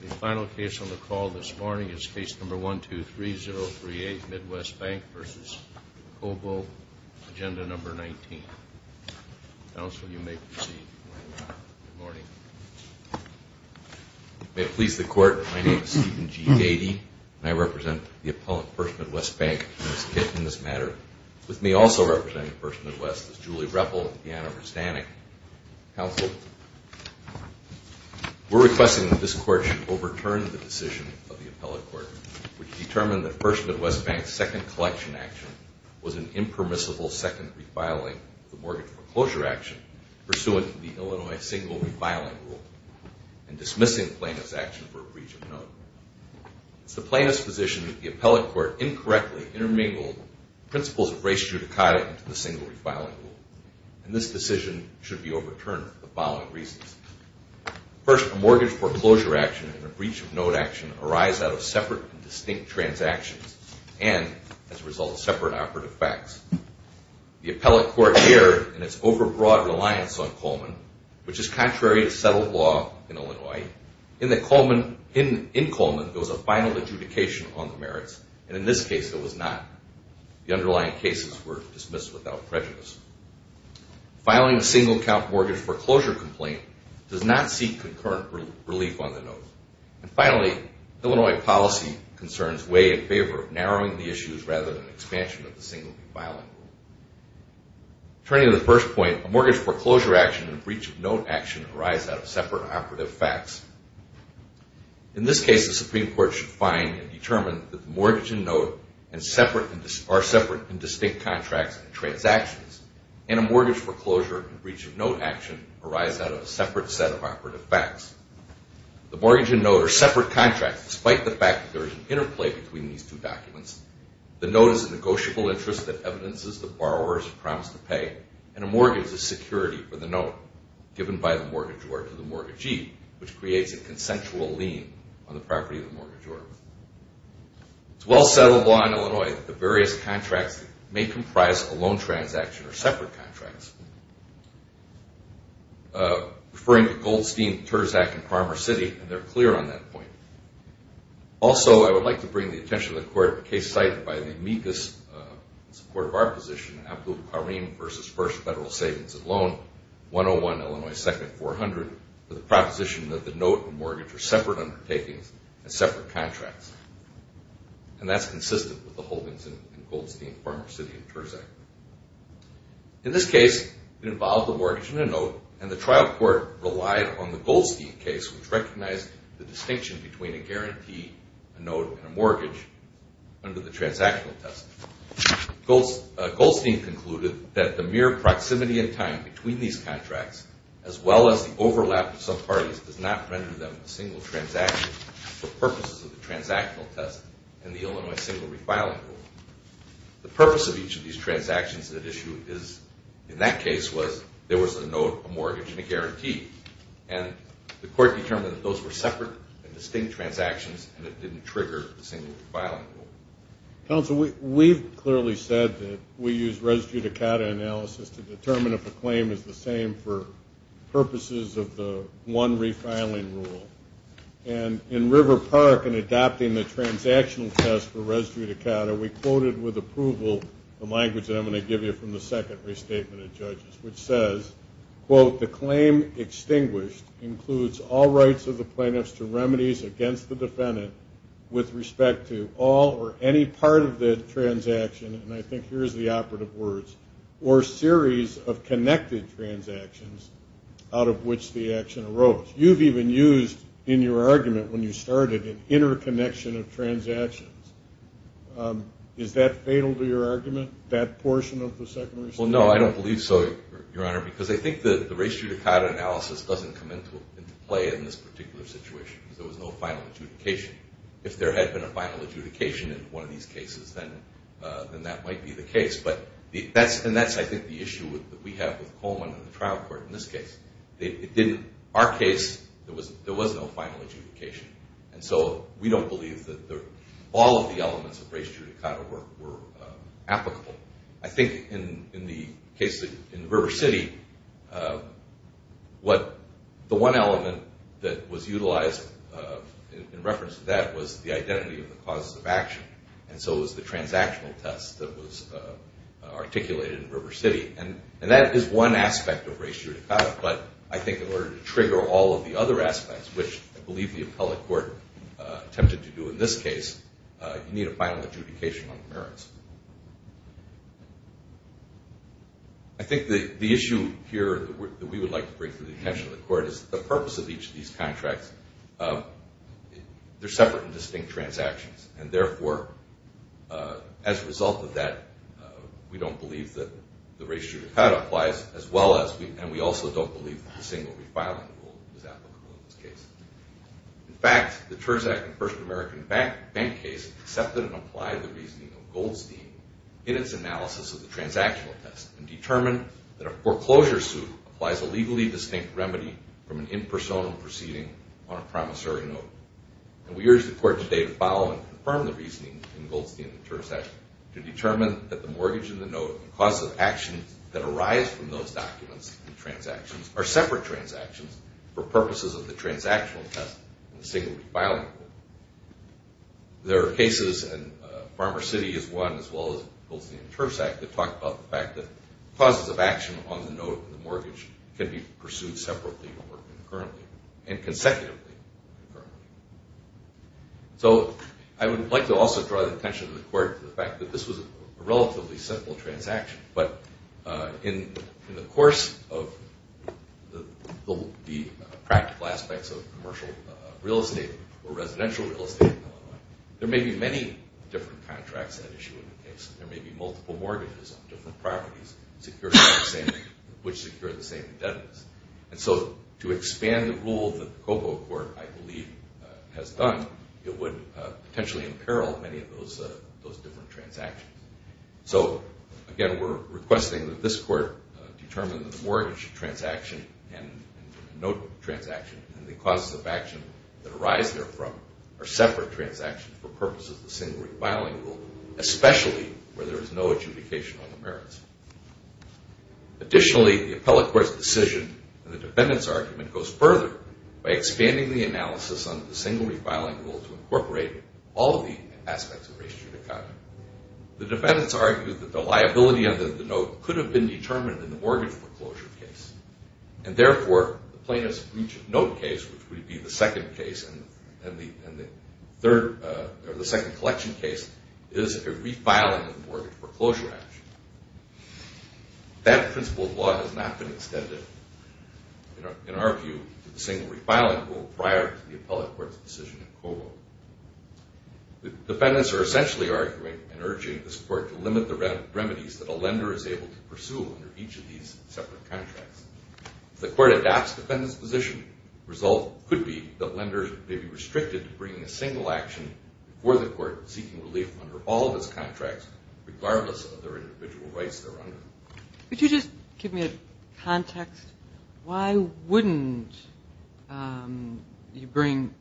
The final case on the call this morning is Case No. 123038, Midwest Bank v. Cobo, Agenda No. 19. Counsel, you may proceed. Good morning. May it please the Court, my name is Stephen G. Gady, and I represent the appellant, First Midwest Bank, in this matter. With me also representing First Midwest is Julie Ruppel of Indiana Rustanic. Counsel, we're requesting that this Court should overturn the decision of the appellate court which determined that First Midwest Bank's second collection action was an impermissible second refiling of the mortgage foreclosure action pursuant to the Illinois single refiling rule and dismissing plaintiff's action for breach of note. It's the plaintiff's position that the appellate court incorrectly intermingled principles of race judicata and this decision should be overturned for the following reasons. First, a mortgage foreclosure action and a breach of note action arise out of separate and distinct transactions and, as a result, separate operative facts. The appellate court erred in its overbroad reliance on Coleman, which is contrary to settled law in Illinois. In Coleman, there was a final adjudication on the merits, and in this case, there was not. The underlying cases were dismissed without prejudice. Filing a single-count mortgage foreclosure complaint does not seek concurrent relief on the note. And finally, Illinois policy concerns weigh in favor of narrowing the issues rather than expansion of the single refiling rule. Turning to the first point, a mortgage foreclosure action and a breach of note action arise out of separate operative facts. In this case, the Supreme Court should find and determine that the mortgage and note are separate and distinct contracts and transactions, and a mortgage foreclosure and breach of note action arise out of a separate set of operative facts. The mortgage and note are separate contracts, despite the fact that there is an interplay between these two documents. The note is a negotiable interest that evidences the borrower's promise to pay, and a mortgage is security for the note, given by the mortgagor to the mortgagee, which creates a consensual lien on the property of the mortgagor. It's well-settled law in Illinois that the various contracts may comprise a loan transaction or separate contracts, referring to Goldstein, Terzak, and Palmer City, and they're clear on that point. Also, I would like to bring the attention of the Court to a case cited by the amicus in support of our position, Abdul Kareem v. First Federal Savings and Loan, 101 Illinois 2nd, 400, for the proposition that the note and mortgage are separate undertakings and separate contracts, and that's consistent with the holdings in Goldstein, Palmer City, and Terzak. In this case, it involved a mortgage and a note, and the trial court relied on the Goldstein case, which recognized the distinction between a guarantee, a note, and a mortgage under the transactional test. Goldstein concluded that the mere proximity in time between these contracts, as well as the overlap of some parties, does not render them a single transaction for purposes of the transactional test and the Illinois single refiling rule. The purpose of each of these transactions at issue in that case was there was a note, a mortgage, and a guarantee, and the Court determined that those were separate and distinct transactions and it didn't trigger the single refiling rule. Counsel, we've clearly said that we use res judicata analysis to determine if a claim is the same for purposes of the one refiling rule, and in River Park in adopting the transactional test for res judicata, we quoted with approval the language that I'm going to give you from the second restatement of judges, which says, quote, the claim extinguished includes all rights of the plaintiffs to remedies against the defendant with respect to all or any part of the transaction, and I think here's the operative words, or series of connected transactions out of which the action arose. You've even used in your argument when you started an interconnection of transactions. Is that fatal to your argument, that portion of the second restatement? Well, no, I don't believe so, Your Honor, because I think the res judicata analysis doesn't come into play in this particular situation because there was no final adjudication. If there had been a final adjudication in one of these cases, then that might be the case, and that's, I think, the issue that we have with Coleman and the trial court in this case. In our case, there was no final adjudication, and so we don't believe that all of the elements of res judicata were applicable. I think in the case in River City, what the one element that was utilized in reference to that was the identity of the causes of action, and so it was the transactional test that was articulated in River City, and that is one aspect of res judicata, but I think in order to trigger all of the other aspects, which I believe the appellate court attempted to do in this case, you need a final adjudication on the merits. I think the issue here that we would like to bring to the attention of the court is the purpose of each of these contracts. They're separate and distinct transactions, and therefore, as a result of that, we don't believe that the res judicata applies, and we also don't believe that the single refiling rule is applicable in this case. In fact, the Terzak and First American Bank case accepted and applied the reasoning of Goldstein in its analysis of the transactional test and determined that a foreclosure suit applies a legally distinct remedy from an impersonal proceeding on a promissory note, and we urge the court today to follow and confirm the reasoning in Goldstein and Terzak to determine that the mortgage and the note and causes of action that arise from those documents and transactions are separate transactions for purposes of the transactional test and the single refiling rule. There are cases, and Farmer City is one, as well as Goldstein and Terzak, that talk about the fact that causes of action on the note and the mortgage can be pursued separately or concurrently and consecutively. So I would like to also draw the attention of the court to the fact that this was a relatively simple transaction, but in the course of the practical aspects of commercial real estate or residential real estate in Illinois, there may be many different contracts at issue in the case. There may be multiple mortgages on different properties which secure the same indebtedness. And so to expand the rule that the Cobo Court, I believe, has done, it would potentially imperil many of those different transactions. So, again, we're requesting that this court determine that the mortgage transaction and the note transaction and the causes of action that arise therefrom are separate transactions for purposes of the single refiling rule, especially where there is no adjudication on the merits. Additionally, the appellate court's decision in the defendant's argument goes further by expanding the analysis on the single refiling rule to incorporate all of the aspects of race judicata. The defendants argue that the liability under the note could have been determined in the mortgage foreclosure case. And, therefore, the plaintiff's breach of note case, which would be the second case and the second collection case, is a refiling of the mortgage foreclosure action. That principle of law has not been extended, in our view, to the single refiling rule prior to the appellate court's decision in Cobo. The defendants are essentially arguing and urging this court to limit the remedies that a lender is able to pursue under each of these separate contracts. If the court adopts the defendant's position, the result could be that lenders may be restricted to bringing a single action before the court seeking relief under all of its contracts, regardless of their individual rights they're under. Could you just give me a context? Why wouldn't you bring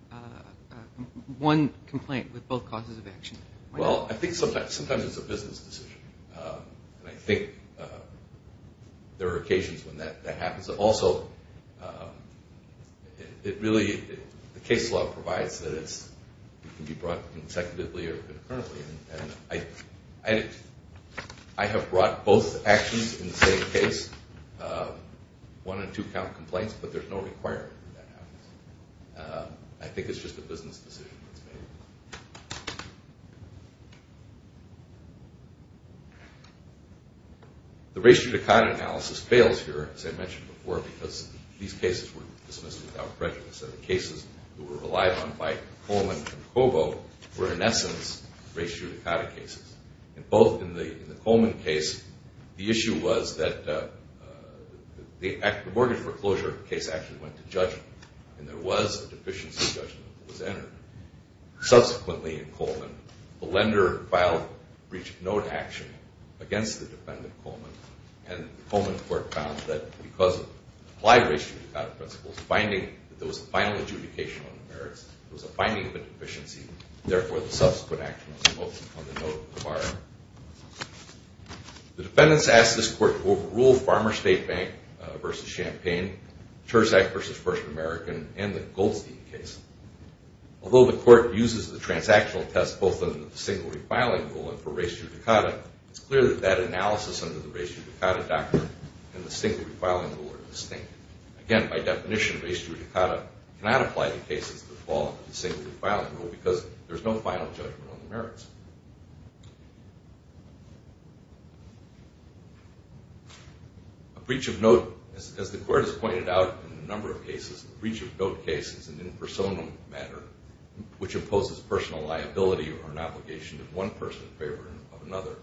one complaint with both causes of action? Well, I think sometimes it's a business decision. And I think there are occasions when that happens. Also, the case law provides that it can be brought consecutively or concurrently. And I have brought both actions in the same case, one- and two-count complaints, but there's no requirement that that happens. I think it's just a business decision that's made. The ratio to con analysis fails here, as I mentioned before, because these cases were dismissed without prejudice. So the cases that were relied on by Coleman and Cobo were, in essence, ratio to cata cases. And both in the Coleman case, the issue was that the mortgage foreclosure case actually went to judgment, and there was a deficiency judgment that was entered. Subsequently, in Coleman, the lender filed breach of note action against the defendant, Coleman, and the Coleman court found that because of applied ratio to cata principles, there was a final adjudication on the merits. There was a finding of a deficiency. Therefore, the subsequent action was noted on the note required. The defendants asked this court to overrule Farmer State Bank v. Champaign, Terzak v. First American, and the Goldstein case. Although the court uses the transactional test both in the single refiling rule and for ratio to cata, it's clear that that analysis under the ratio to cata doctrine and the single refiling rule are distinct. Again, by definition, ratio to cata cannot apply to cases that fall under the single refiling rule because there's no final judgment on the merits. A breach of note, as the court has pointed out in a number of cases, a breach of note case is an impersonal matter which imposes personal liability or an obligation of one person in favor of another,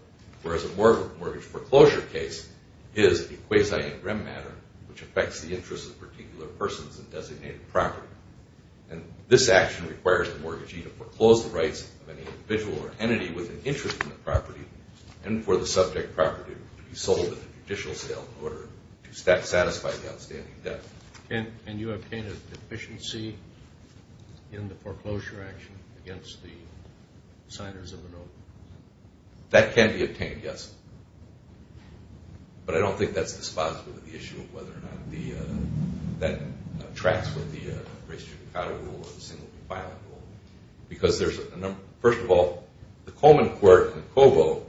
whereas a mortgage foreclosure case is a quasi-interim matter which affects the interests of particular persons in designated property. And this action requires the mortgagee to foreclose the rights of any individual or entity with an interest in the property and for the subject property to be sold at a judicial sale in order to satisfy the outstanding debt. And you obtained a deficiency in the foreclosure action against the signers of the note? That can be obtained, yes, but I don't think that's dispositive of the issue of whether or not that tracks with the ratio to cata rule or the single refiling rule because there's a number. First of all, the Coleman court in Cobo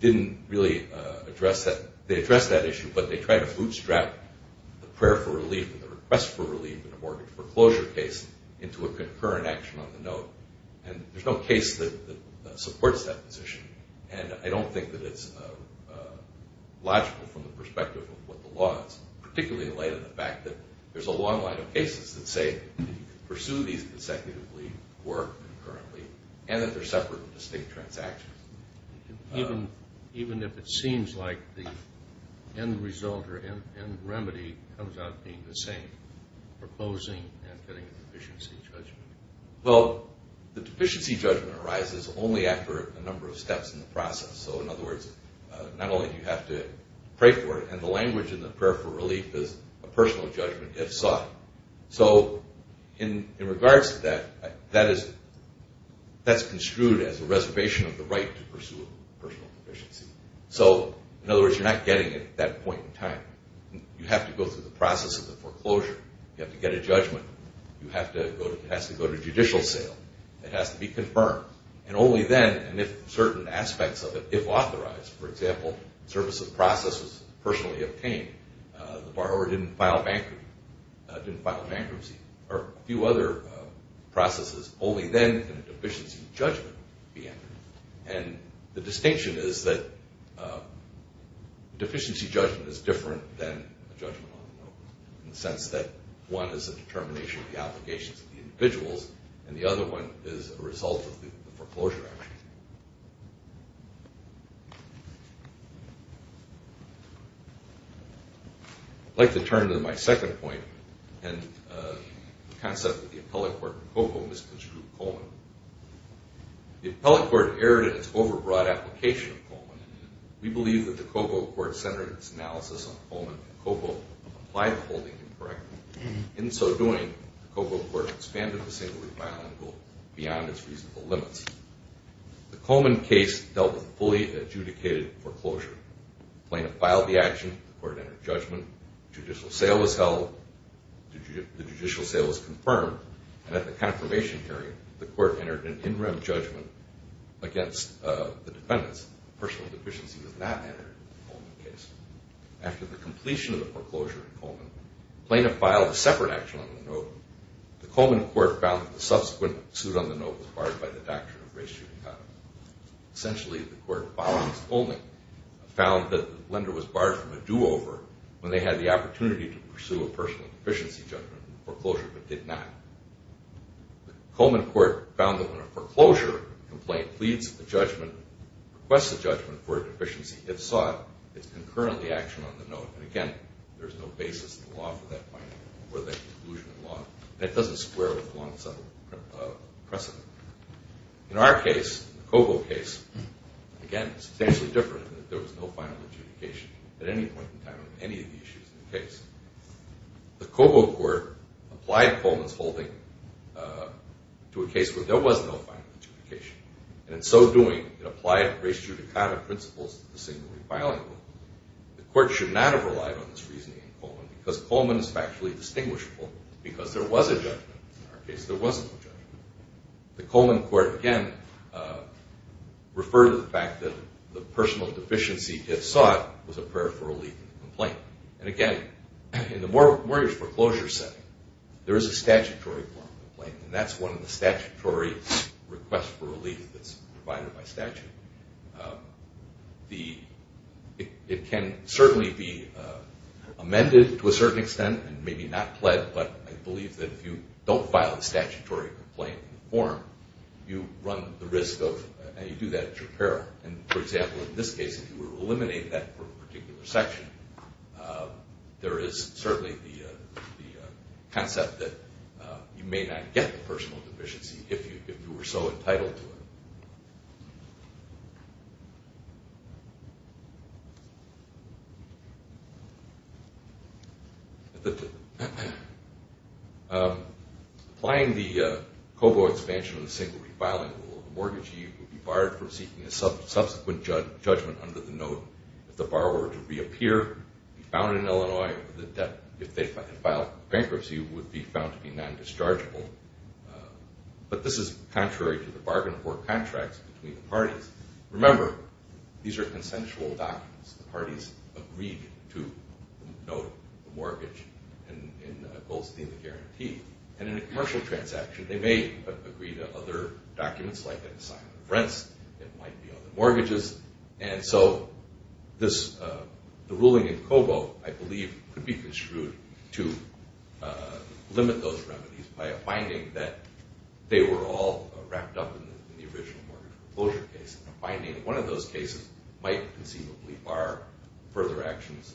didn't really address that. They addressed that issue, but they tried to bootstrap the prayer for relief and the request for relief in a mortgage foreclosure case into a concurrent action on the note. And there's no case that supports that position, and I don't think that it's logical from the perspective of what the law is, particularly in light of the fact that there's a long line of cases that say that you can pursue these consecutively, work concurrently, and that they're separate and distinct transactions. Even if it seems like the end result or end remedy comes out being the same, proposing and getting a deficiency judgment? Well, the deficiency judgment arises only after a number of steps in the process. So, in other words, not only do you have to pray for it, and the language in the prayer for relief is a personal judgment if sought. So in regards to that, that is construed as a reservation of the right to pursue a personal deficiency. So, in other words, you're not getting it at that point in time. You have to go through the process of the foreclosure. You have to get a judgment. It has to go to judicial sale. It has to be confirmed. And only then, and if certain aspects of it, if authorized, for example, services process was personally obtained, the borrower didn't file bankruptcy, or a few other processes, only then can a deficiency judgment be entered. And the distinction is that deficiency judgment is different than judgment on the whole in the sense that one is a determination of the obligations of the individuals, and the other one is a result of the foreclosure action. I'd like to turn to my second point and the concept of the appellate court where COGO misconstrued Coleman. The appellate court erred in its overbroad application of Coleman. We believe that the COGO court centered its analysis on Coleman and COGO applied the holding incorrectly. In so doing, the COGO court expanded the singular filing rule beyond its reasonable limits. The Coleman case dealt with fully adjudicated foreclosure. Plaintiff filed the action, the court entered judgment, judicial sale was held, the judicial sale was confirmed, and at the confirmation hearing, the court entered an in-rem judgment against the defendants. Personal deficiency was not entered in the Coleman case. After the completion of the foreclosure in Coleman, plaintiff filed a separate action on the note. The Coleman court found that the subsequent suit on the note was barred by the doctrine of race judicata. Essentially, the court, following Coleman, proceeded to pursue a personal deficiency judgment in the foreclosure but did not. The Coleman court found that when a foreclosure complaint pleads a judgment, requests a judgment for a deficiency, if sought, it's concurrently action on the note. And again, there's no basis in the law for that finding or the exclusion in law. That doesn't square with the long-settled precedent. In our case, the COGO case, again, it's essentially different in that there was no final adjudication at any point in time of any of the issues in the case. The COGO court applied Coleman's holding to a case where there was no final adjudication. And in so doing, it applied race judicata principles to the single refiling rule. The court should not have relied on this reasoning in Coleman because Coleman is factually distinguishable because there was a judgment. In our case, there was no judgment. The Coleman court, again, referred to the fact that the personal deficiency, if sought, was a prayer for relief in the complaint. And again, in the mortgage foreclosure setting, there is a statutory form of complaint, and that's one of the statutory requests for relief that's provided by statute. It can certainly be amended to a certain extent and maybe not pled, but I believe that if you don't file a statutory complaint in the form, you run the risk of, and you do that at your peril. And, for example, in this case, if you were to eliminate that particular section, there is certainly the concept that you may not get the personal deficiency if you were so entitled to it. Applying the COGO expansion of the single refiling rule, the mortgagee would be barred from seeking a subsequent judgment under the note if the borrower were to reappear, be found in Illinois, or if they filed bankruptcy, would be found to be non-dischargeable. But this is contrary to the bargain for contracts between the parties. Remember, these are consensual documents. The parties agreed to note the mortgage in a Goldstein guarantee. And in a commercial transaction, they may agree to other documents like an assignment of rents. It might be other mortgages. And so the ruling in COGO, I believe, could be construed to limit those remedies by a finding that they were all wrapped up in the original mortgage closure case, and a finding that one of those cases might conceivably bar further actions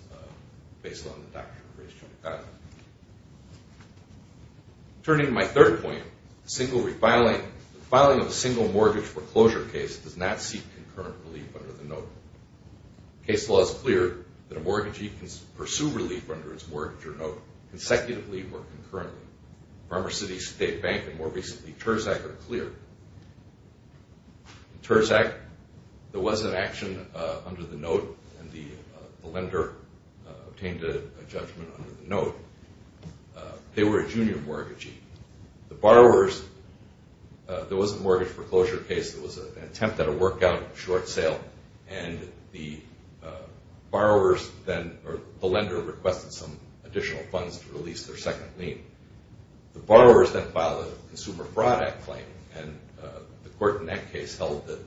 based on the doctrine of race-genitalia. Turning to my third point, the filing of a single mortgage foreclosure case does not seek concurrent relief under the note. Case law is clear that a mortgagee can pursue relief under its mortgage or note consecutively or concurrently. Farmer City State Bank, and more recently, Terzak, are clear. In Terzak, there was an action under the note, and the lender obtained a judgment under the note. They were a junior mortgagee. The borrowers, there was a mortgage foreclosure case that was an attempt at a workout, short sale, and the borrowers then, or the lender, requested some additional funds to release their second lien. The borrowers then filed a Consumer Fraud Act claim, and the court in that case held that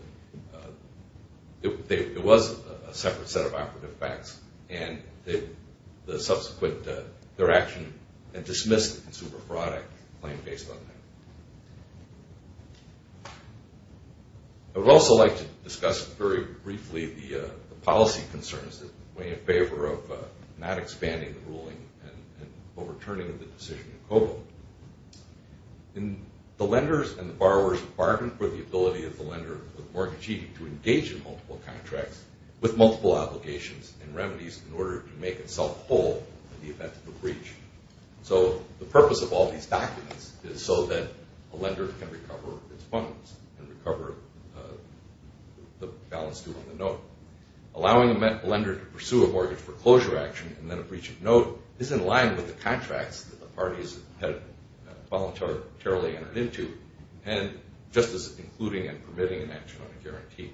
it was a separate set of operative facts, and the subsequent, their action had dismissed the Consumer Fraud Act claim based on that. I would also like to discuss very briefly the policy concerns that weigh in favor of not expanding the ruling and overturning the decision in Cobo. The lenders and borrowers bargain for the ability of the lender or the mortgagee to engage in multiple contracts with multiple obligations and remedies in order to make itself whole in the event of a breach. So the purpose of all these documents is so that a lender can recover its funds and recover the balance due on the note. Allowing a lender to pursue a mortgage foreclosure action and then a breach of note is in line with the contracts that the parties had voluntarily entered into, and just as including and permitting an action on a guarantee.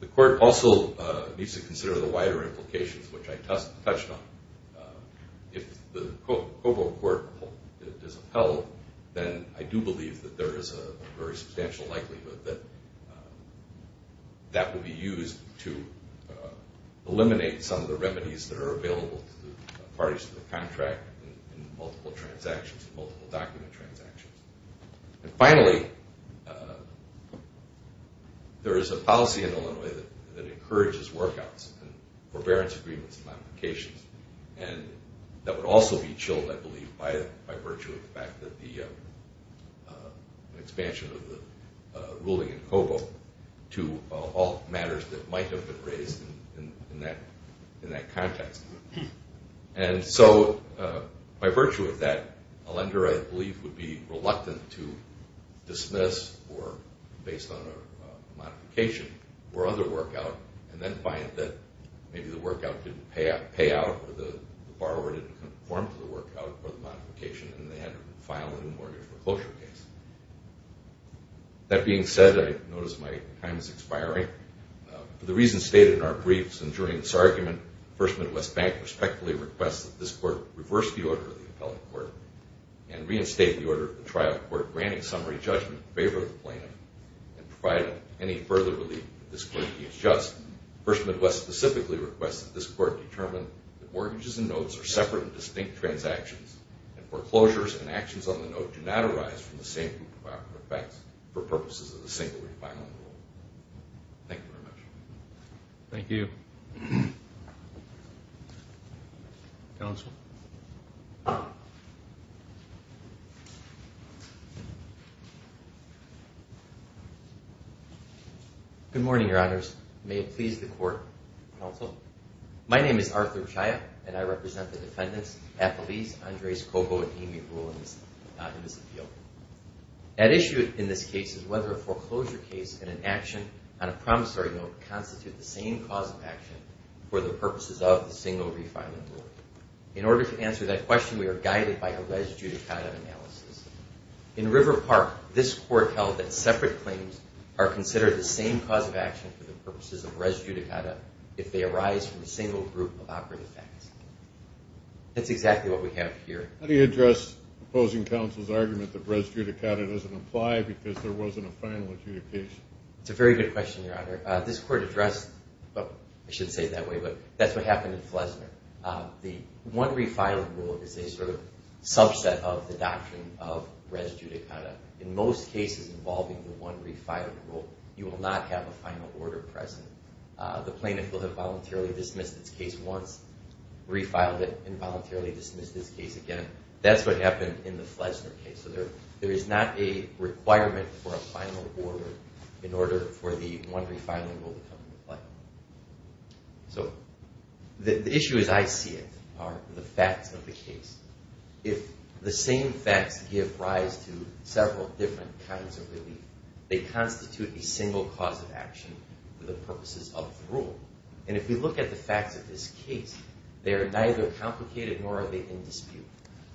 The court also needs to consider the wider implications, which I touched on. If the Cobo court is upheld, then I do believe that there is a very substantial likelihood that that would be used to eliminate some of the remedies that are available to the parties to the contract in multiple transactions, multiple document transactions. And finally, there is a policy in Illinois that encourages workouts and forbearance agreements and modifications, and that would also be chilled, I believe, by virtue of the fact that the expansion of the ruling in Cobo to all matters that might have been raised in that context. And so by virtue of that, a lender, I believe, would be reluctant to dismiss or based on a modification or other workout and then find that maybe the workout didn't pay out or the borrower didn't conform to the workout or the modification and they had to file a new mortgage reclosure case. That being said, I notice my time is expiring. For the reasons stated in our briefs and during this argument, First Midwest Bank respectfully requests that this court reverse the order of the appellate court and reinstate the order of the trial court granting summary judgment in favor of the plaintiff and providing any further relief if this court deems just. First Midwest specifically requests that this court determine that mortgages and notes are separate and distinct transactions and foreclosures and actions on the note do not arise from the same group of effects for purposes of the single refiling rule. Thank you very much. Thank you. Counsel. Good morning, Your Honors. May it please the court. Counsel, my name is Arthur Chaya and I represent the defendants Apeliz, Andres Cobo, and Amy Rule in this appeal. At issue in this case is whether a foreclosure case and an action on a promissory note constitute the same cause of action for the purposes of the single refiling rule. In order to answer that question, we are guided by a res judicata analysis. In River Park, this court held that separate claims are considered the same cause of action for the purposes of res judicata if they arise from a single group of operative facts. That's exactly what we have here. How do you address opposing counsel's argument that res judicata doesn't apply because there wasn't a final adjudication? It's a very good question, Your Honor. This court addressed, I shouldn't say it that way, but that's what happened in Flesner. The one refiling rule is a sort of subset of the doctrine of res judicata. In most cases involving the one refiling rule, you will not have a final order present. The plaintiff will have voluntarily dismissed its case once, refiled it, and voluntarily dismissed its case again. That's what happened in the Flesner case. There is not a requirement for a final order in order for the one refiling rule to come into play. The issue as I see it are the facts of the case. If the same facts give rise to several different kinds of relief, they constitute a single cause of action for the purposes of the rule. And if we look at the facts of this case, they are neither complicated nor are they in dispute.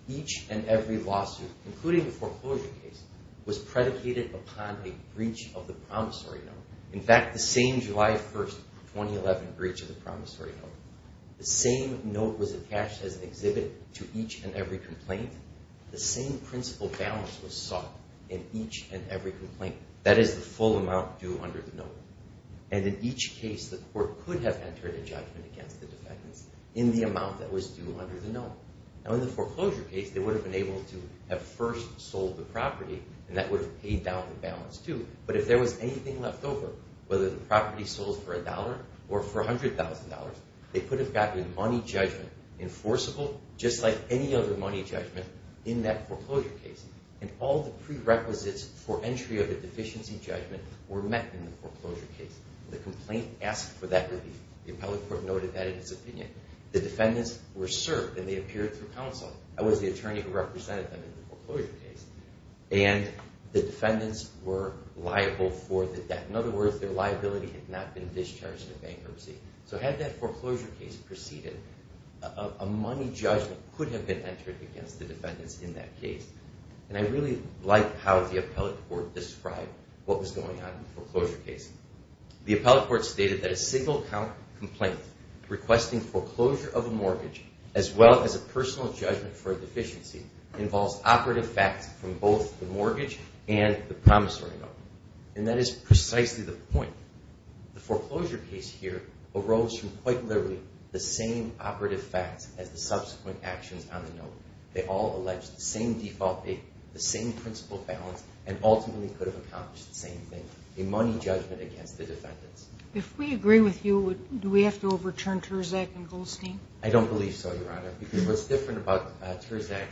Each and every lawsuit, including the foreclosure case, was predicated upon a breach of the promissory note. In fact, the same July 1, 2011 breach of the promissory note, the same note was attached as an exhibit to each and every complaint. The same principal balance was sought in each and every complaint. That is the full amount due under the note. And in each case, the court could have entered a judgment against the defendants in the amount that was due under the note. Now in the foreclosure case, they would have been able to have first sold the property, and that would have paid down the balance too. But if there was anything left over, whether the property sold for a dollar or for $100,000, they could have gotten a money judgment enforceable, just like any other money judgment in that foreclosure case. And all the prerequisites for entry of a deficiency judgment were met in the foreclosure case. The complaint asked for that relief. The appellate court noted that in its opinion. The defendants were served, and they appeared through counsel. I was the attorney who represented them in the foreclosure case. And the defendants were liable for the debt. In other words, their liability had not been discharged in bankruptcy. So had that foreclosure case proceeded, a money judgment could have been entered against the defendants in that case. And I really like how the appellate court described what was going on in the foreclosure case. The appellate court stated that a single-count complaint requesting foreclosure of a mortgage, as well as a personal judgment for a deficiency, involves operative facts from both the mortgage and the promissory note. And that is precisely the point. The foreclosure case here arose from quite literally the same operative facts as the subsequent actions on the note. They all allege the same default date, the same principal balance, and ultimately could have accomplished the same thing, a money judgment against the defendants. If we agree with you, do we have to overturn Terzak and Goldstein? I don't believe so, Your Honor, because what's different about Terzak,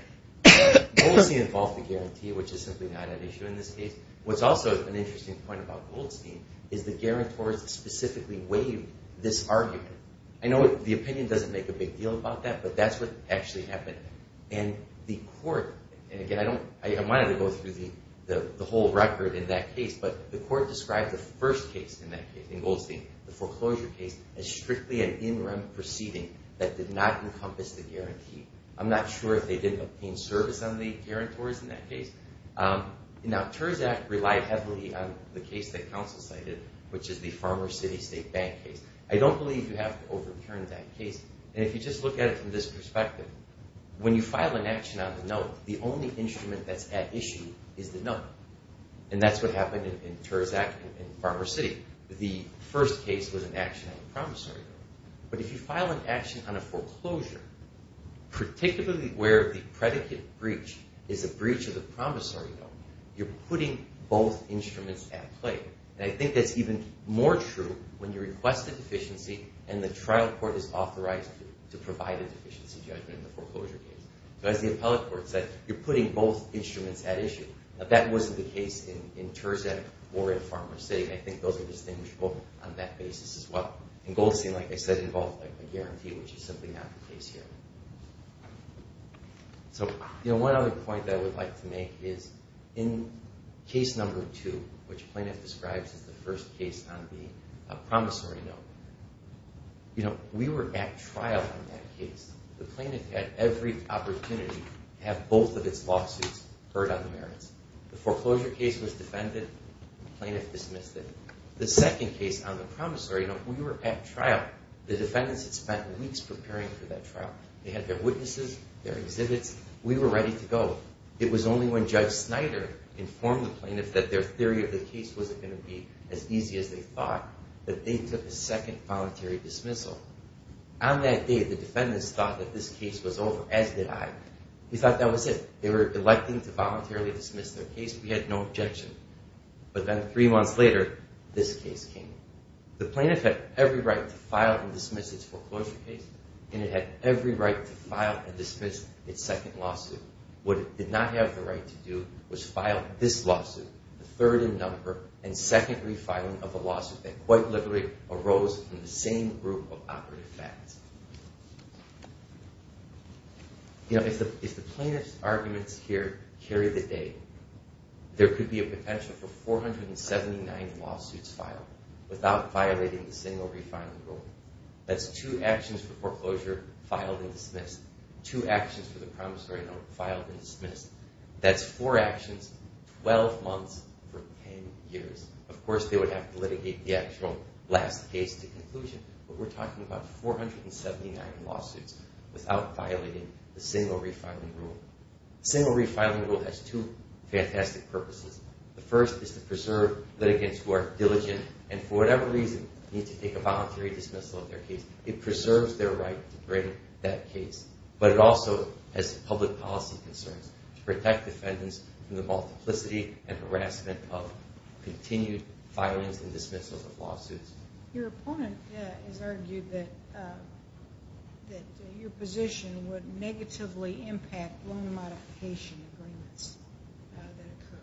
Goldstein involved the guarantee, which is simply not an issue in this case. What's also an interesting point about Goldstein is the guarantors specifically waived this argument. I know the opinion doesn't make a big deal about that, but that's what actually happened. And the court, and again, I don't want to go through the whole record in that case, but the court described the first case in that case, in Goldstein, the foreclosure case, as strictly an in-rem proceeding that did not encompass the guarantee. I'm not sure if they did maintain service on the guarantors in that case. Now, Terzak relied heavily on the case that counsel cited, which is the Farmer City State Bank case. I don't believe you have to overturn that case. And if you just look at it from this perspective, when you file an action on the note, the only instrument that's at issue is the note. And that's what happened in Terzak and Farmer City. The first case was an action on the promissory note. But if you file an action on a foreclosure, particularly where the predicate breach is a breach of the promissory note, you're putting both instruments at play. And I think that's even more true when you request a deficiency and the trial court is authorized to provide a deficiency judgment in the foreclosure case. So as the appellate court said, you're putting both instruments at issue. That wasn't the case in Terzak or in Farmer City. I think those are distinguishable on that basis as well. And Goldstein, like I said, involved a guarantee, which is simply not the case here. So one other point that I would like to make is in case number two, which plaintiff describes as the first case on the promissory note, we were at trial on that case. The plaintiff had every opportunity to have both of its lawsuits heard on the merits. The foreclosure case was defended. The plaintiff dismissed it. The second case on the promissory note, we were at trial. The defendants had spent weeks preparing for that trial. They had their witnesses, their exhibits. We were ready to go. It was only when Judge Snyder informed the plaintiff that their theory of the case wasn't going to be as easy as they thought that they took a second voluntary dismissal. On that day, the defendants thought that this case was over, as did I. We thought that was it. They were electing to voluntarily dismiss their case. We had no objection. But then three months later, this case came. The plaintiff had every right to file and dismiss its foreclosure case, and it had every right to file and dismiss its second lawsuit. What it did not have the right to do was file this lawsuit, the third in number, and second refiling of a lawsuit that quite literally arose from the same group of operative facts. You know, if the plaintiff's arguments here carry the day, there could be a potential for 479 lawsuits filed without violating the single refiling rule. That's two actions for foreclosure filed and dismissed, two actions for the promissory note filed and dismissed. That's four actions, 12 months for 10 years. Of course, they would have to litigate the actual last case to conclusion, but we're talking about 479 lawsuits without violating the single refiling rule. The single refiling rule has two fantastic purposes. The first is to preserve litigants who are diligent and, for whatever reason, need to take a voluntary dismissal of their case. It preserves their right to bring that case, but it also has public policy concerns to protect defendants from the multiplicity and harassment of continued filings and dismissals of lawsuits. Your opponent has argued that your position would negatively impact loan modification agreements that occur.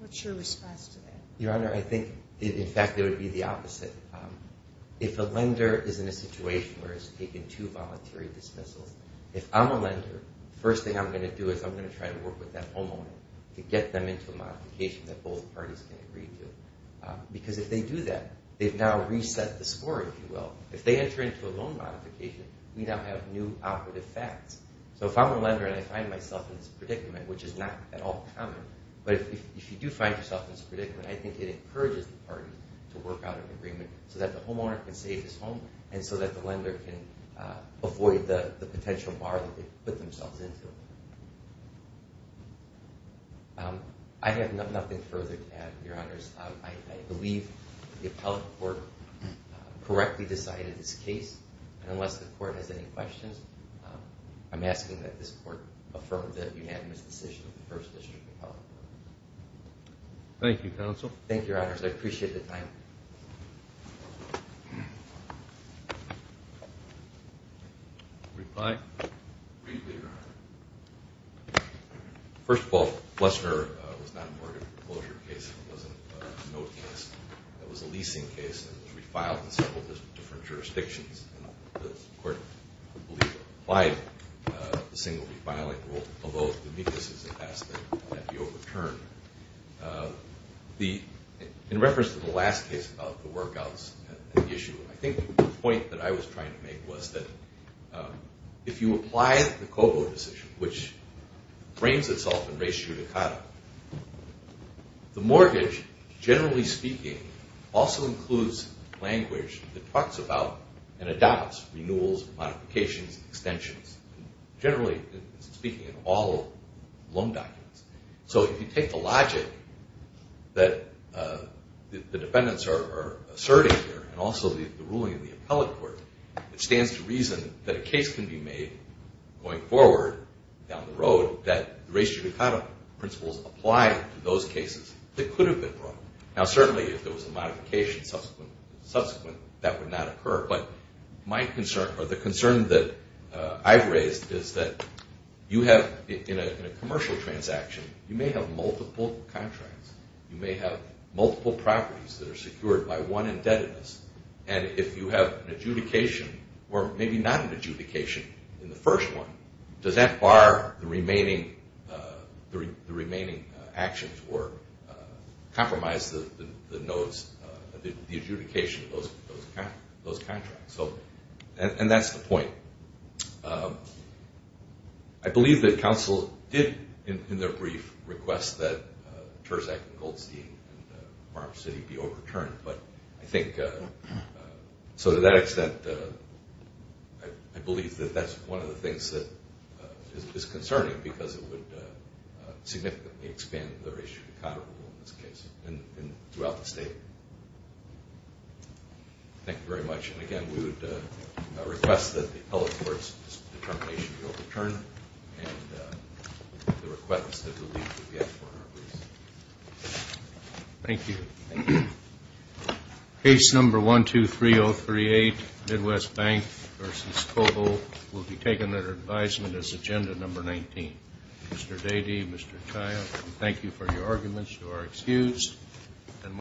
What's your response to that? Your Honor, I think, in fact, it would be the opposite. If a lender is in a situation where it's taken two voluntary dismissals, if I'm a lender, the first thing I'm going to do is I'm going to try to work with that homeowner to get them into a modification that both parties can agree to, because if they do that, they've now reset the score, if you will. If they enter into a loan modification, we now have new operative facts. So if I'm a lender and I find myself in this predicament, which is not at all common, but if you do find yourself in this predicament, I think it encourages the party to work out an agreement so that the homeowner can save his home and so that the lender can avoid the potential bar that they put themselves into. I have nothing further to add, Your Honors. I believe the appellate court correctly decided this case. Unless the court has any questions, I'm asking that this court affirm the unanimous decision of the First District Appellate Court. Thank you, Counsel. Thank you, Your Honors. Reply. Briefly, Your Honor. First of all, Flessner was not a mortgage closure case. It wasn't a note case. It was a leasing case, and it was refiled in several different jurisdictions. And the court, I believe, applied the single refiling rule, although the MECUS has asked that that be overturned. In reference to the last case about the workouts and the issue, I think the point that I was trying to make was that if you apply the Cobo decision, which frames itself in res judicata, the mortgage, generally speaking, also includes language that talks about and adopts renewals, modifications, extensions, generally speaking, in all loan documents. So if you take the logic that the defendants are asserting here, and also the ruling in the appellate court, it stands to reason that a case can be made going forward down the road that the res judicata principles apply to those cases that could have been brought. Now, certainly if there was a modification subsequent, that would not occur. But my concern, or the concern that I've raised, is that you have in a commercial transaction, you may have multiple contracts. You may have multiple properties that are secured by one indebtedness. And if you have an adjudication, or maybe not an adjudication in the first one, does that bar the remaining actions or compromise the adjudication of those contracts? And that's the point. I believe that counsel did in their brief request that Terzak and Goldstein and Farm City be overturned. But I think to that extent, I believe that that's one of the things that is concerning because it would significantly expand the res judicata rule in this case, and throughout the state. Thank you very much. And, again, we would request that the appellate court's determination be overturned and the request that we'll leave it at that for now. Thank you. Case number 123038, Midwest Bank v. Cobo, will be taken under advisement as agenda number 19. Mr. Dadey, Mr. Kaya, thank you for your arguments. You are excused.